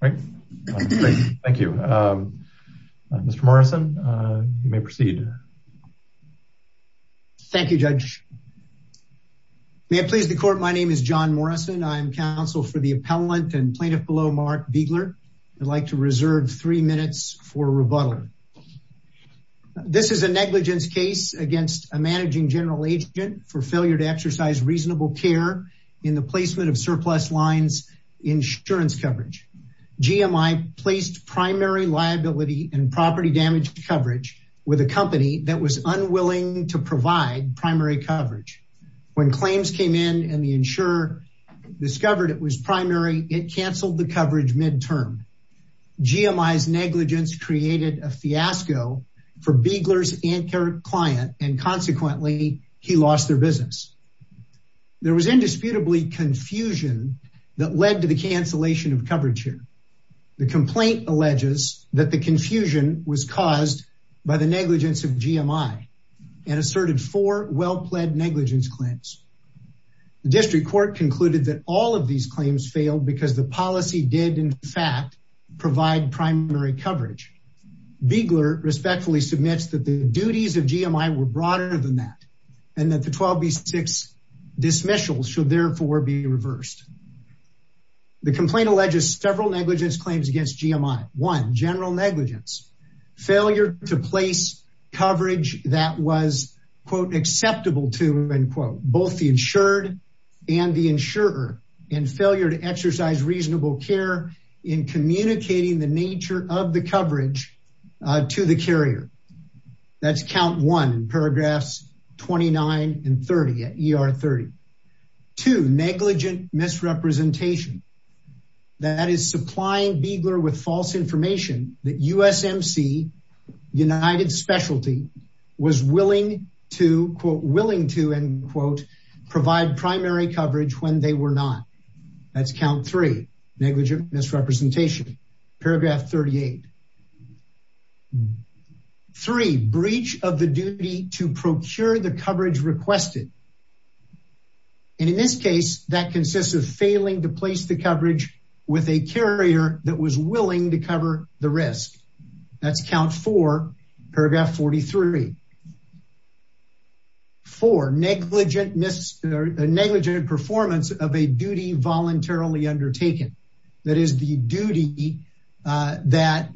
Thank you. Mr. Morrison, you may proceed. Thank you, Judge. May it please the court, my name is John Morrison. I'm counsel for the appellant and plaintiff below Mark Biegler. I'd like to reserve three minutes for rebuttal. This is a negligence case against a managing general agent for failure to exercise reasonable care in the placement of surplus lines insurance coverage. G.M.I. placed primary liability and property damage coverage with a company that was unwilling to provide primary coverage. When claims came in and the insurer discovered it was primary, it canceled the coverage midterm. G.M.I.'s negligence created a fiasco for Biegler's anchor client and consequently he lost their business. There was indisputably confusion that led to the cancellation of coverage here. The complaint alleges that the confusion was caused by the negligence of G.M.I. and asserted four well-pledged negligence claims. The district court concluded that all of these claims failed because the policy did in fact provide primary coverage. Biegler respectfully submits that the duties of G.M.I. were broader than that and that the 12B6 dismissals should therefore be reversed. The complaint alleges several negligence claims against G.M.I. One, general negligence. Failure to place coverage that was quote acceptable to end quote both the insured and the insurer and failure to exercise reasonable care in communicating the nature of the coverage to the carrier. That's count one in paragraphs 29 and 30 at ER 30. Two, negligent misrepresentation. That is supplying Biegler with false information that USMC United Specialty was willing to quote willing to end quote provide primary coverage when they were not. That's count three negligent misrepresentation. Paragraph 38. Three, breach of the duty to procure the coverage requested. And in this case that consists of failing to place the coverage with a carrier that was willing to cover the risk. That's count four paragraph 43. Four, negligent performance of a duty voluntarily undertaken. That is the duty that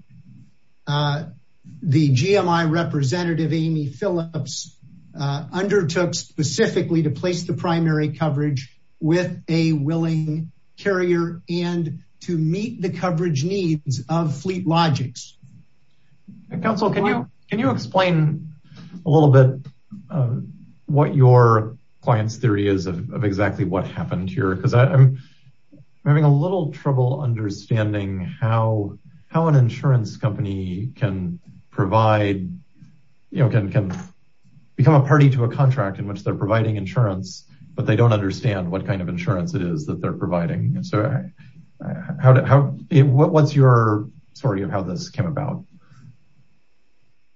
the G.M.I. representative Amy Phillips undertook specifically to place the primary coverage with a willing carrier and to meet the coverage needs of Fleet Logics. Counsel can you can you explain a little bit what your client's theory is of exactly what trouble understanding how how an insurance company can provide you know can can become a party to a contract in which they're providing insurance but they don't understand what kind of insurance it is that they're providing. So how what's your story of how this came about?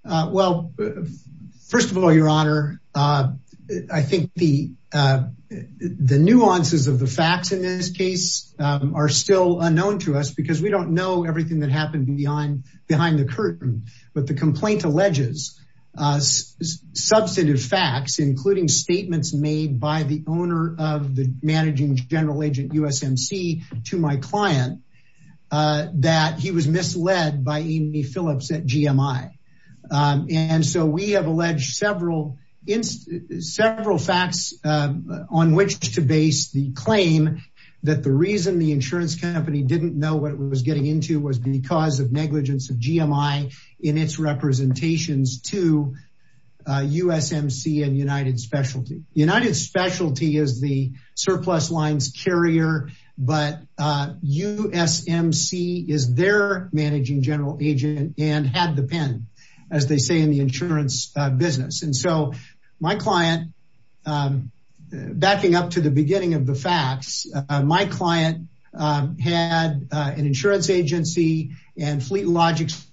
Uh well first of all your honor uh I think the uh the nuances of the facts in this case um are still unknown to us because we don't know everything that happened behind behind the curtain but the complaint alleges uh substantive facts including statements made by the owner of the G.M.I. and so we have alleged several several facts on which to base the claim that the reason the insurance company didn't know what it was getting into was because of negligence of G.M.I. in its representations to USMC and United Specialty. United Specialty is the surplus lines carrier but uh USMC is their managing general agent and had the pen as they say in the insurance business and so my client um backing up to the beginning of the facts my client um had an insurance agency and Fleet Logics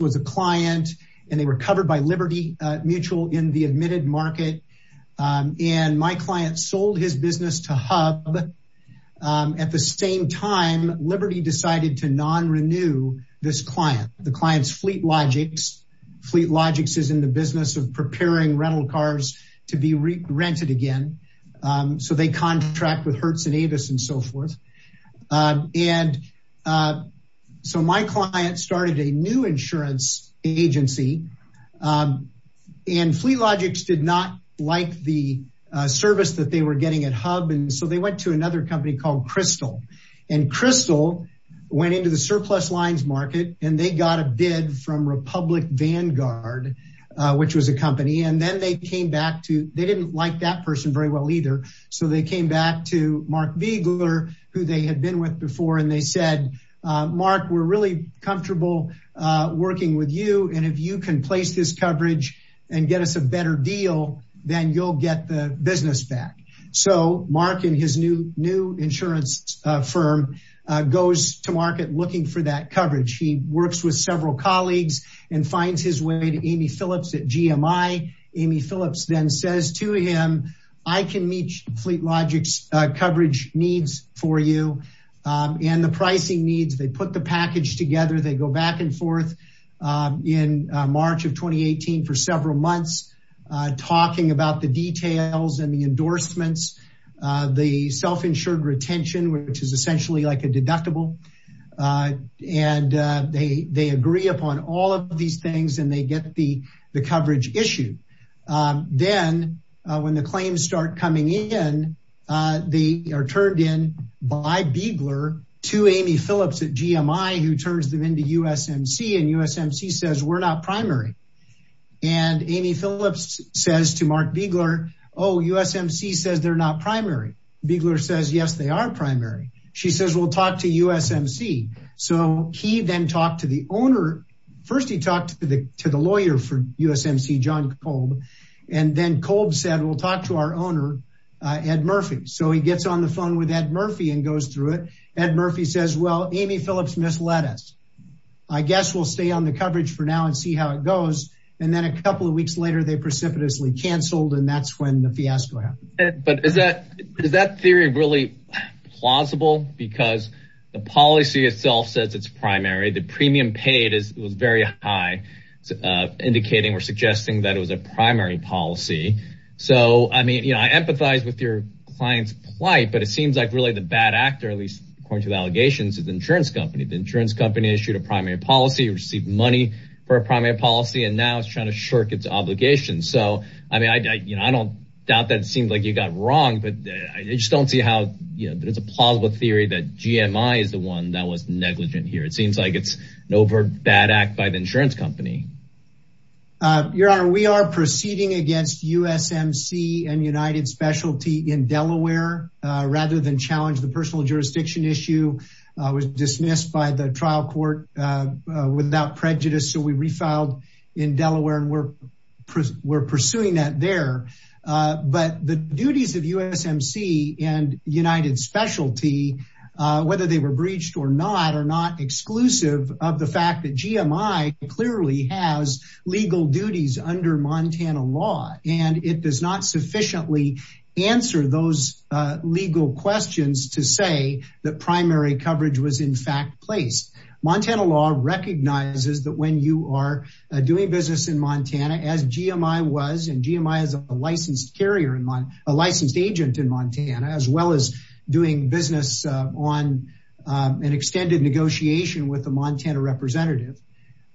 was a client and they were covered by Liberty Mutual in the um at the same time Liberty decided to non-renew this client the client's Fleet Logics. Fleet Logics is in the business of preparing rental cars to be re-rented again um so they contract with Hertz and Avis and so forth um and uh so my client started a new insurance agency um and Fleet Logics did not like the uh service that they were getting at Hub and so they went to another company called Crystal and Crystal went into the surplus lines market and they got a bid from Republic Vanguard uh which was a company and then they came back to they didn't like that person very well either so they came back to Mark Viegler who they had been with before and they said Mark we're really comfortable uh working with you and if you can place this coverage and get us a new insurance firm goes to market looking for that coverage he works with several colleagues and finds his way to Amy Phillips at GMI. Amy Phillips then says to him I can meet Fleet Logics coverage needs for you and the pricing needs they put the package together they go back and forth in March of 2018 for several months talking about the details and the endorsements uh the self-insured retention which is essentially like a deductible uh and uh they they agree upon all of these things and they get the the coverage issue um then when the claims start coming in uh they are turned in by Viegler to Amy Phillips at GMI who turns them into USMC and USMC says we're not primary and Amy Phillips says to Mark Viegler oh USMC says they're not primary Viegler says yes they are primary she says we'll talk to USMC so he then talked to the owner first he talked to the to the lawyer for USMC John Kolb and then Kolb said we'll talk to our owner uh Ed Murphy so he gets on the phone with Ed Murphy and goes through it Ed Murphy says well Amy Phillips misled us I guess we'll stay on the coverage for now and see how it goes and then a couple of weeks later they precipitously canceled and that's when the fiasco happened but is that is that theory really plausible because the policy itself says it's primary the premium paid is was very high uh indicating or suggesting that it was a primary policy so I mean you know I empathize with your client's plight but it seems like really the bad actor at least according to the allegations is insurance company the insurance company issued a primary policy received money for a primary policy and now it's trying to shirk its obligations so I mean I you know I don't doubt that it seems like you got wrong but I just don't see how you know there's a plausible theory that GMI is the one that was negligent here it seems like it's an over bad act by the insurance company uh your honor we are proceeding against USMC and United Specialty in Delaware uh rather than challenge the personal jurisdiction issue uh was dismissed by the trial court uh without prejudice so we refiled in Delaware and we're we're pursuing that there uh but the duties of USMC and United Specialty uh whether they were breached or not are not exclusive of the fact that GMI clearly has legal duties under Montana law and it does not sufficiently answer those uh legal questions to say that primary coverage was in fact placed Montana law recognizes that when you are doing business in Montana as GMI was and GMI is a licensed carrier in my a licensed agent in Montana as well as doing business on an extended negotiation with the Montana representative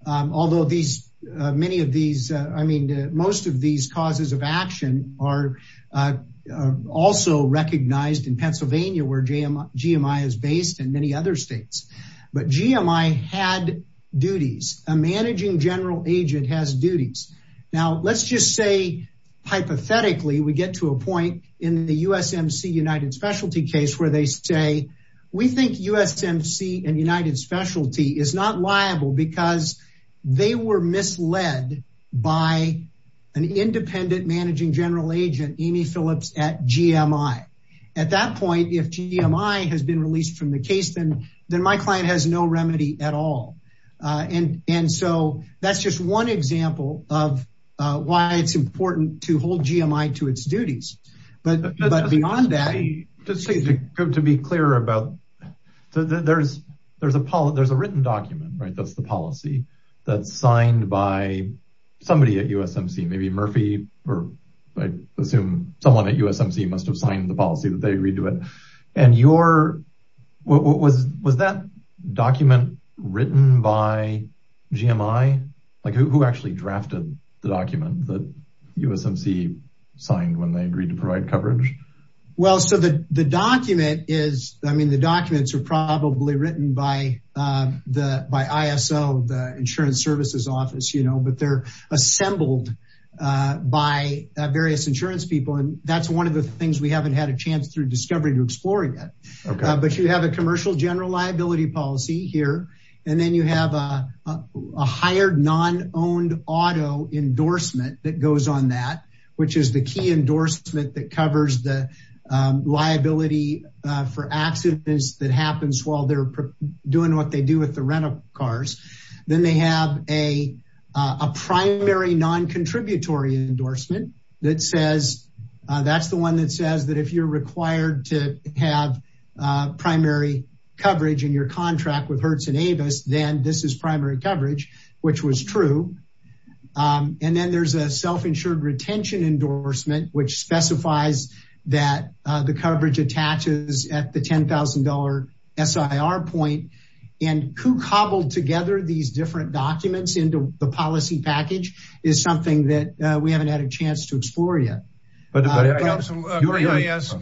although these many of these I mean most of these causes of action are uh also recognized in Pennsylvania where GMI is based and many other states but GMI had duties a managing general agent has duties now let's just say hypothetically we get to a point in the USMC United Specialty case where they say we think USMC and United Specialty is not liable because they were misled by an independent managing general agent Amy Phillips at GMI at that point if GMI has been released from the case then then my client has no remedy at all uh and and so that's just one example of uh why it's important to hold GMI to its duties but but beyond that just to be clear about there's there's a there's a written document right that's the policy that's signed by somebody at USMC maybe Murphy or I assume someone at USMC must have signed the policy that they agree to it and your what was was that document written by GMI like who actually drafted the document that USMC signed when they agreed to provide coverage well so the the document is I mean the documents are probably written by uh the by ISO the insurance services office you know but they're assembled uh by various insurance people and that's one of the things we haven't had a chance through discovery to explore yet but you have a commercial general liability policy here and then you have a a hired non-owned auto endorsement that goes on that which is the key endorsement that covers the liability for accidents that happens while they're doing what they do with the rental cars then they have a a primary non-contributory endorsement that says that's to have primary coverage in your contract with Hertz and Avis then this is primary coverage which was true and then there's a self-insured retention endorsement which specifies that the coverage attaches at the ten thousand dollar SIR point and who cobbled together these different documents into the policy package is something that we haven't had a chance to explore yet but I ask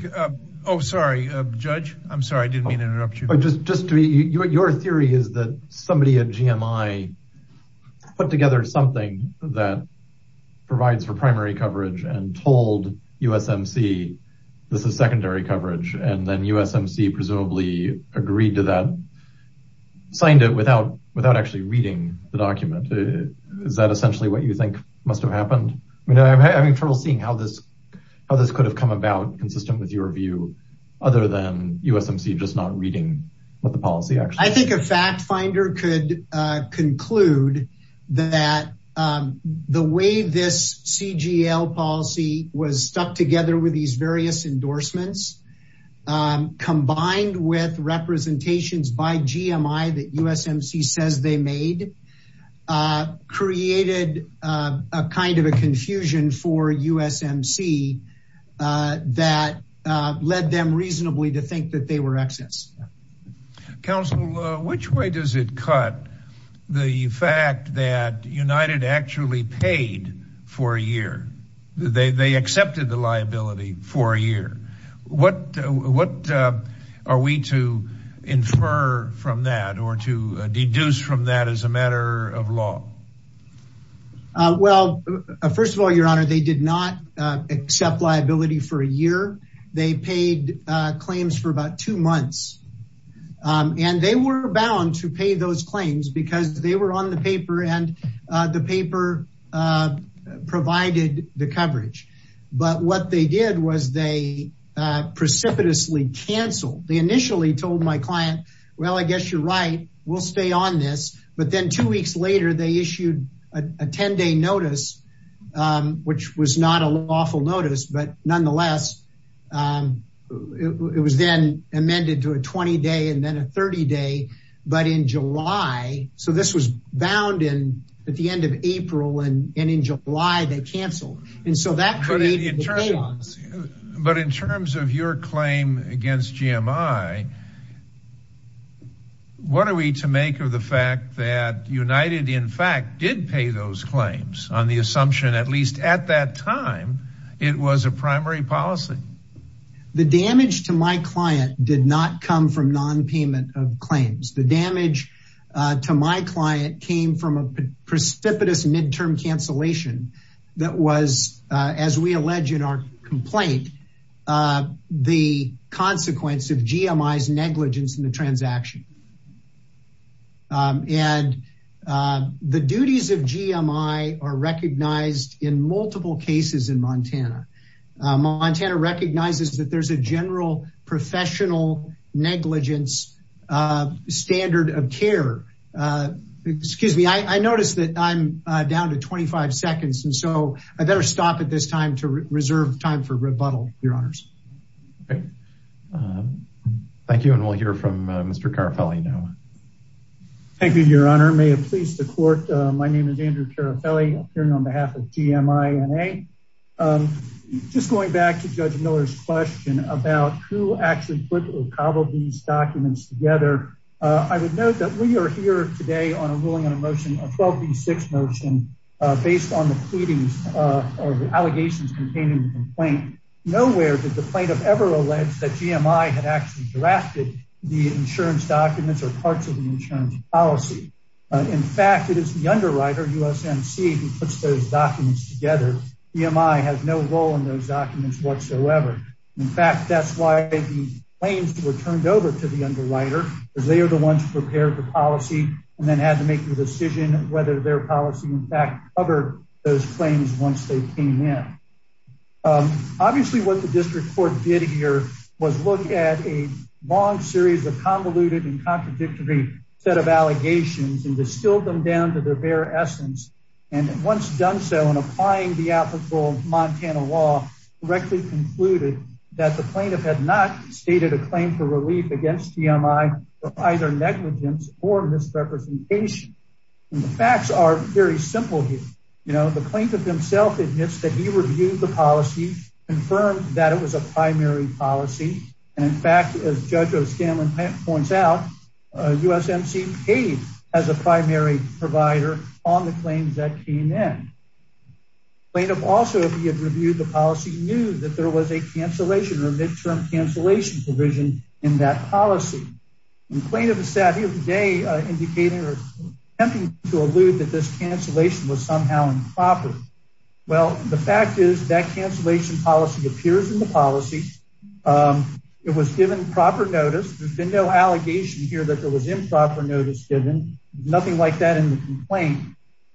oh sorry uh judge I'm sorry I didn't mean to interrupt you but just just to be your theory is that somebody at GMI put together something that provides for primary coverage and told USMC this is secondary coverage and then USMC presumably agreed to that signed it without without actually reading the document is that essentially what you think must have happened I mean I'm having trouble seeing how this how this could have come about consistent with your view other than USMC just not reading what the policy actually I think a fact finder could conclude that the way this CGL policy was stuck together with these various endorsements um combined with representations by GMI that USMC says they made created a kind of a confusion for USMC that led them reasonably to think that they were excess counsel which way does it cut the fact that United actually paid for a year they accepted the liability for a year what what are we to infer from that or to deduce from that as a matter of law well first of all your honor they did not accept liability for a year they paid claims for about two months and they were bound to pay those the coverage but what they did was they precipitously canceled they initially told my client well I guess you're right we'll stay on this but then two weeks later they issued a 10-day notice which was not a lawful notice but nonetheless it was then amended to a 20-day and then a 30-day but in July so this was bound in at the end of April and in July they canceled and so that created a chaos but in terms of your claim against GMI what are we to make of the fact that United in fact did pay those claims on the assumption at at that time it was a primary policy the damage to my client did not come from non-payment of claims the damage to my client came from a precipitous midterm cancellation that was as we allege in our complaint the consequence of GMI's negligence in the transaction and the duties of GMI are recognized in multiple cases in Montana Montana recognizes that there's a general professional negligence standard of care excuse me I noticed that I'm down to 25 seconds and so I better stop at this time to reserve time for rebuttal your honors okay thank you and we'll hear from Mr. Carafelli now thank you your honor may it please the court my name is Andrew Carafelli appearing on behalf of GMI NA just going back to Judge Miller's question about who actually put or cobbled these documents together I would note that we are here today on a ruling on a motion a 12 v 6 motion based on the pleadings of allegations containing the insurance documents or parts of the insurance policy in fact it is the underwriter USNC who puts those documents together GMI has no role in those documents whatsoever in fact that's why the claims were turned over to the underwriter because they are the ones who prepared the policy and then had to make the decision whether their policy in fact covered those claims once they came in um obviously what the district court did here was look at a long series of convoluted and contradictory set of allegations and distilled them down to their bare essence and once done so in applying the applicable Montana law correctly concluded that the plaintiff had not stated a claim for relief against GMI or either negligence or misrepresentation and the facts are very simple you know the plaintiff himself admits that he reviewed the policy confirmed that it was a primary policy and in fact as Judge O'Scanlan points out USNC paid as a primary provider on the claims that came in plaintiff also if he had reviewed the policy knew that there was a cancellation or midterm cancellation provision in that policy and plaintiff is sat here today indicating or attempting to allude that this cancellation was somehow improper well the fact is that cancellation policy appears in the policy it was given proper notice there's been no allegation here that there was improper notice given nothing like that in the complaint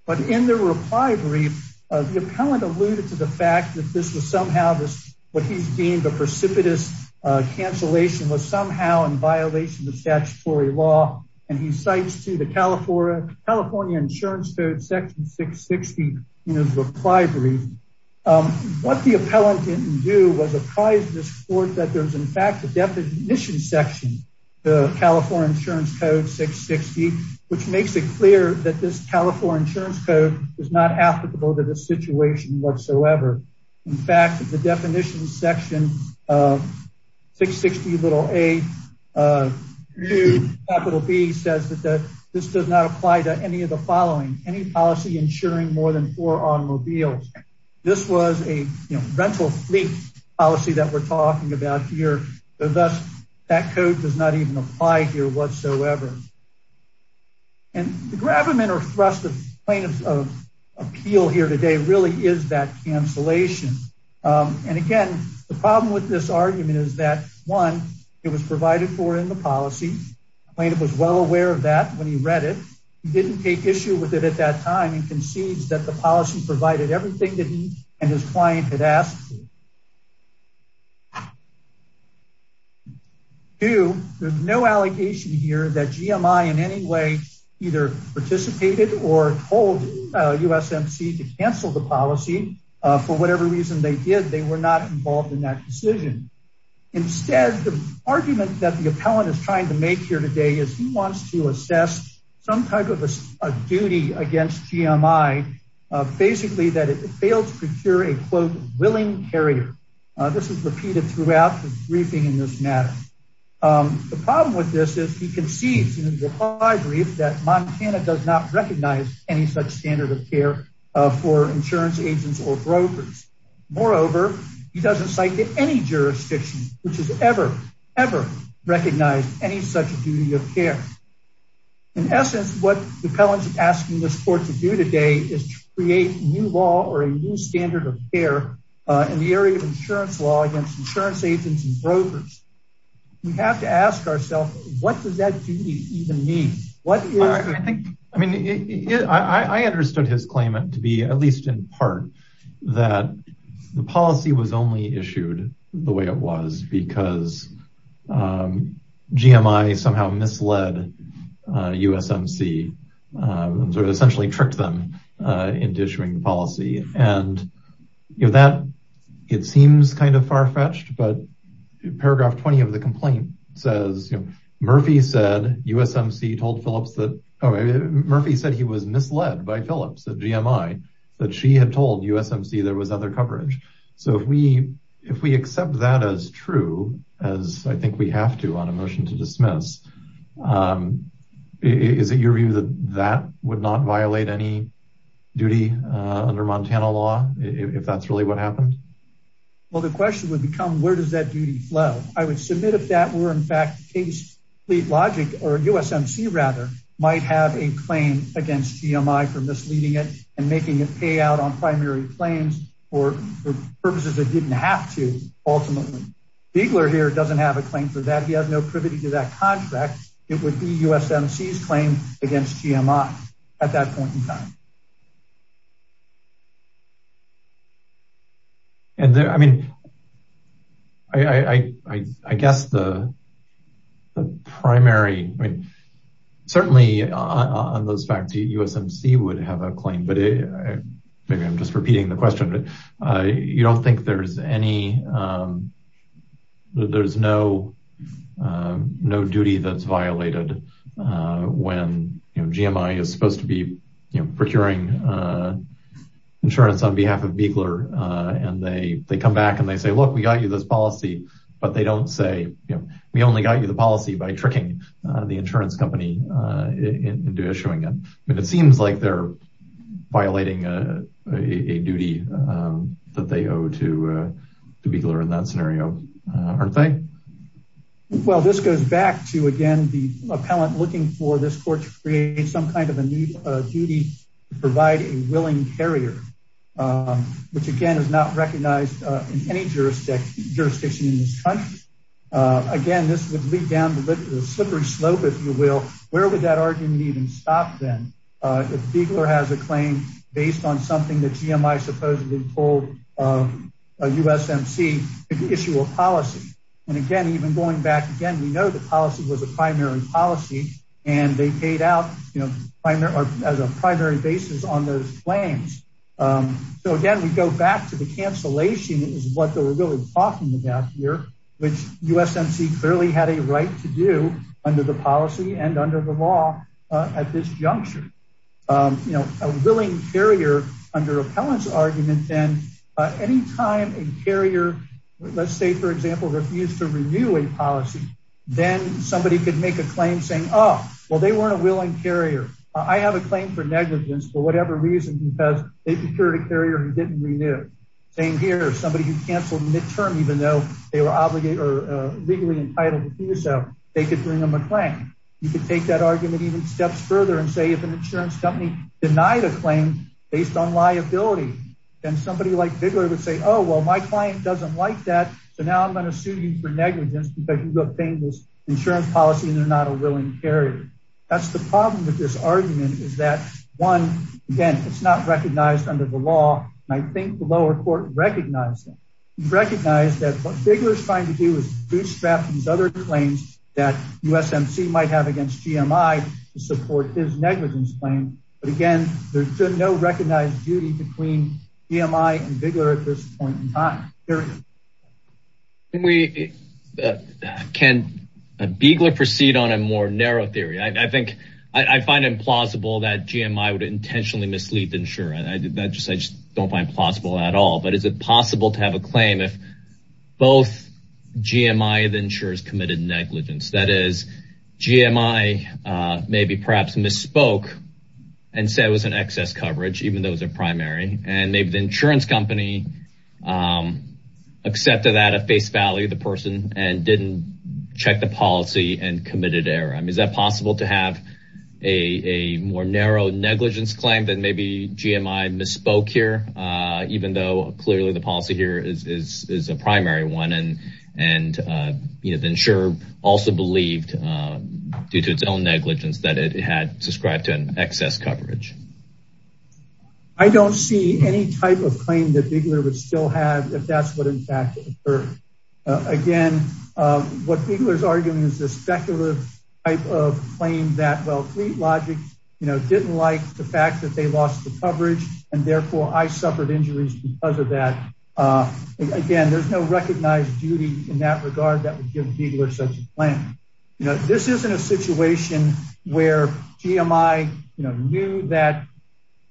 but in the reply brief the appellant alluded to the fact that this was somehow this what he's precipitous cancellation was somehow in violation of statutory law and he cites to the California California insurance code section 660 in his reply brief what the appellant didn't do was apprise this court that there's in fact the definition section the California insurance code 660 which makes it clear that this California insurance code is not applicable to the situation whatsoever in fact the definition section of 660 little a capital b says that that this does not apply to any of the following any policy insuring more than four automobiles this was a you know rental fleet policy that we're talking about here so thus that code does not even apply here whatsoever and the gravimentor thrust of plaintiff's appeal here today really is that cancellation and again the problem with this argument is that one it was provided for in the policy plaintiff was well aware of that when he read it he didn't take issue with it at that time and concedes that the policy provided everything that he and his client had asked to do there's no allocation here that gmi in any way either participated or told usmc to cancel the policy uh for whatever reason they did they were not involved in that decision instead the argument that the appellant is trying to make here today is he wants to assess some type of a duty against gmi basically that it failed to procure a quote willing carrier this is repeated throughout the briefing in this matter the problem with this is he conceives in his reply brief that montana does not recognize any such standard of care for insurance agents or brokers moreover he doesn't cite to any jurisdiction which has ever ever recognized any such duty of care in essence what appellant's asking this court to do today is create new law or a new standard of care in the area of insurance law against insurance agents and brokers we have to ask ourselves what does that duty even mean what i think i mean i i understood his claim to be at least in part that the policy was only issued the way it was because um gmi somehow misled usmc sort of essentially tricked them into issuing the policy and you know that it seems kind of far-fetched but paragraph 20 of the complaint says you know murphy said usmc told phillips that oh murphy said he was misled by phillips at gmi that she had told usmc there was other coverage so if we if we accept that as true as i think we have to on a motion to dismiss um is it your view that that would not violate any duty uh under montana law if that's really what happened well the question would become where does that duty flow i would submit if that were in fact case fleet logic or usmc rather might have a claim against gmi for misleading it and making it out on primary claims or for purposes it didn't have to ultimately biegler here doesn't have a claim for that he has no privity to that contract it would be usmc's claim against gmi at that point in time and i mean i i i i guess the the primary i mean certainly on those facts usmc would have a but maybe i'm just repeating the question but uh you don't think there's any um there's no no duty that's violated uh when you know gmi is supposed to be you know procuring uh insurance on behalf of biegler uh and they they come back and they say look we got you this policy but they don't say you know we only got you the policy by tricking the insurance company uh into issuing it but it seems like they're violating a a duty um that they owe to uh to biegler in that scenario aren't they well this goes back to again the appellant looking for this court to create some kind of a new uh duty to provide a willing carrier um which again is not recognized uh in any jurisdiction in this country uh again this would lead down the slippery slope if you will where would that argument even stop then uh if biegler has a claim based on something that gmi supposedly told um usmc to issue a policy and again even going back again we know the policy was a primary policy and they paid out you know primary as a primary basis on those claims um so again we go back to the cancellation is what they were really talking about here which usmc clearly had a right to do under the policy and under the law uh at this juncture um you know a willing carrier under appellant's argument then uh any time a carrier let's say for example refused to renew a policy then somebody could make a claim saying oh well they weren't a willing carrier i have a claim for negligence for whatever reason because they procured a carrier who didn't renew same here somebody who canceled midterm even though they were obligated or legally entitled to do so they could bring them a claim you could take that argument even steps further and say if an insurance company denied a claim based on liability and somebody like bigler would say oh well my client doesn't like that so now i'm going to sue you for negligence because you've obtained this insurance policy and they're not a willing carrier that's the problem with this argument is that one again it's not recognized under the law and i think the lower court recognized it recognized that what biggler is trying to do is bootstrap these other claims that usmc might have against gmi to support his negligence claim but again there's no recognized duty between gmi and biggler at this point in time can we can a biegler proceed on a more narrow theory i think i find it plausible that gmi would intentionally mislead the insurer i did that just i just don't find plausible at all but is it possible to have a claim if both gmi the insurers committed negligence that is gmi uh maybe perhaps misspoke and said it was an excess coverage even though it was a primary and maybe the insurance company um accepted that at face value the person and didn't check the policy and committed error i mean is that possible to have a a more narrow negligence claim that maybe gmi misspoke here uh even though clearly the policy here is is is a primary one and and uh you know the insurer also believed uh due to its own negligence that it had subscribed to an excess coverage i don't see any type of claim that arguing is this speculative type of claim that well fleet logic you know didn't like the fact that they lost the coverage and therefore i suffered injuries because of that uh again there's no recognized duty in that regard that would give biggler such a plan you know this isn't a situation where gmi you know knew that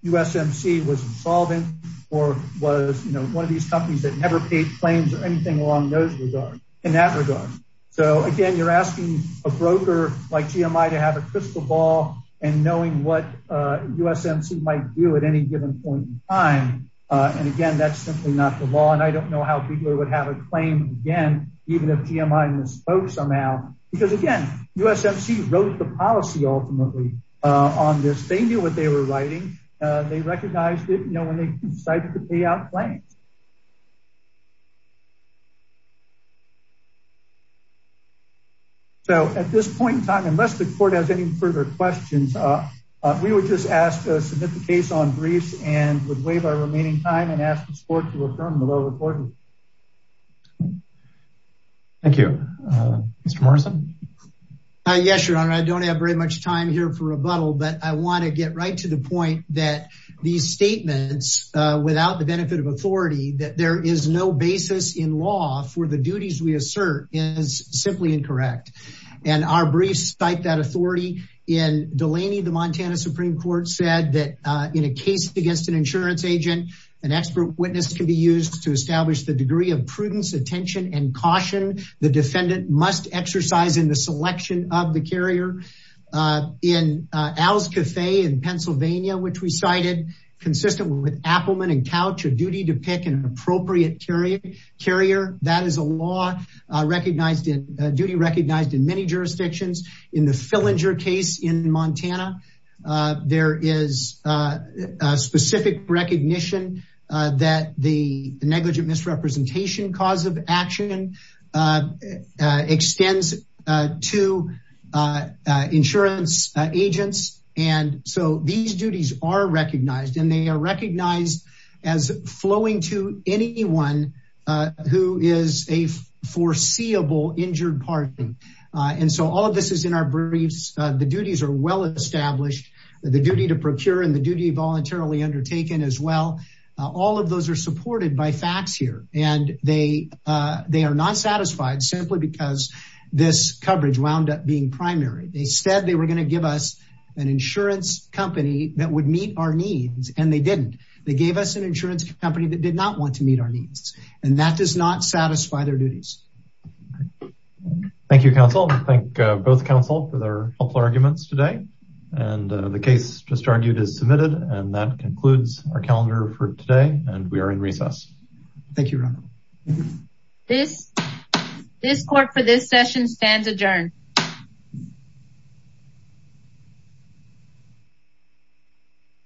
usmc was insolvent or was you know one of these companies that never paid claims or anything along those regards in that regard so again you're asking a broker like gmi to have a crystal ball and knowing what uh usmc might do at any given point in time uh and again that's simply not the law and i don't know how people would have a claim again even if gmi misspoke somehow because again usmc wrote the policy ultimately uh on this they knew what they were writing uh they recognized it you know when they decided to pay out claims so at this point in time unless the court has any further questions uh we would just ask to submit the case on briefs and would waive our remaining time and ask the sport to affirm the low report thank you uh mr morrison uh yes your honor i don't have very much time here for rebuttal but i want to get right to the point that these statements uh without the benefit of authority that there is no basis in law for the duties we assert is simply incorrect and our briefs cite that authority in delaney the montana supreme court said that uh in a case against an insurance agent an expert witness can be used to establish the degree of prudence attention and caution the defendant must exercise in the selection of the carrier uh in al's cafe in pennsylvania which we cited consistent with appleman and couch a duty to pick an appropriate carrier carrier that is a law recognized in duty recognized in many jurisdictions in the fillinger case in montana there is a specific recognition uh that the negligent misrepresentation cause of action extends to insurance agents and so these duties are recognized and they are recognized as flowing to anyone who is a foreseeable injured party and so all of this is in our briefs the duties are well established the duty to procure and the duty voluntarily undertaken as well all of those are supported by facts here and they uh they are not satisfied simply because this coverage wound up being primary they said they were going to give us an insurance company that would meet our needs and they didn't they gave us an insurance company that did not want to meet our needs and that does not satisfy their duties thank you counsel thank both counsel for their helpful arguments today and the case just argued is submitted and that concludes our calendar for today and we are in recess thank you this this court for this session stands adjourned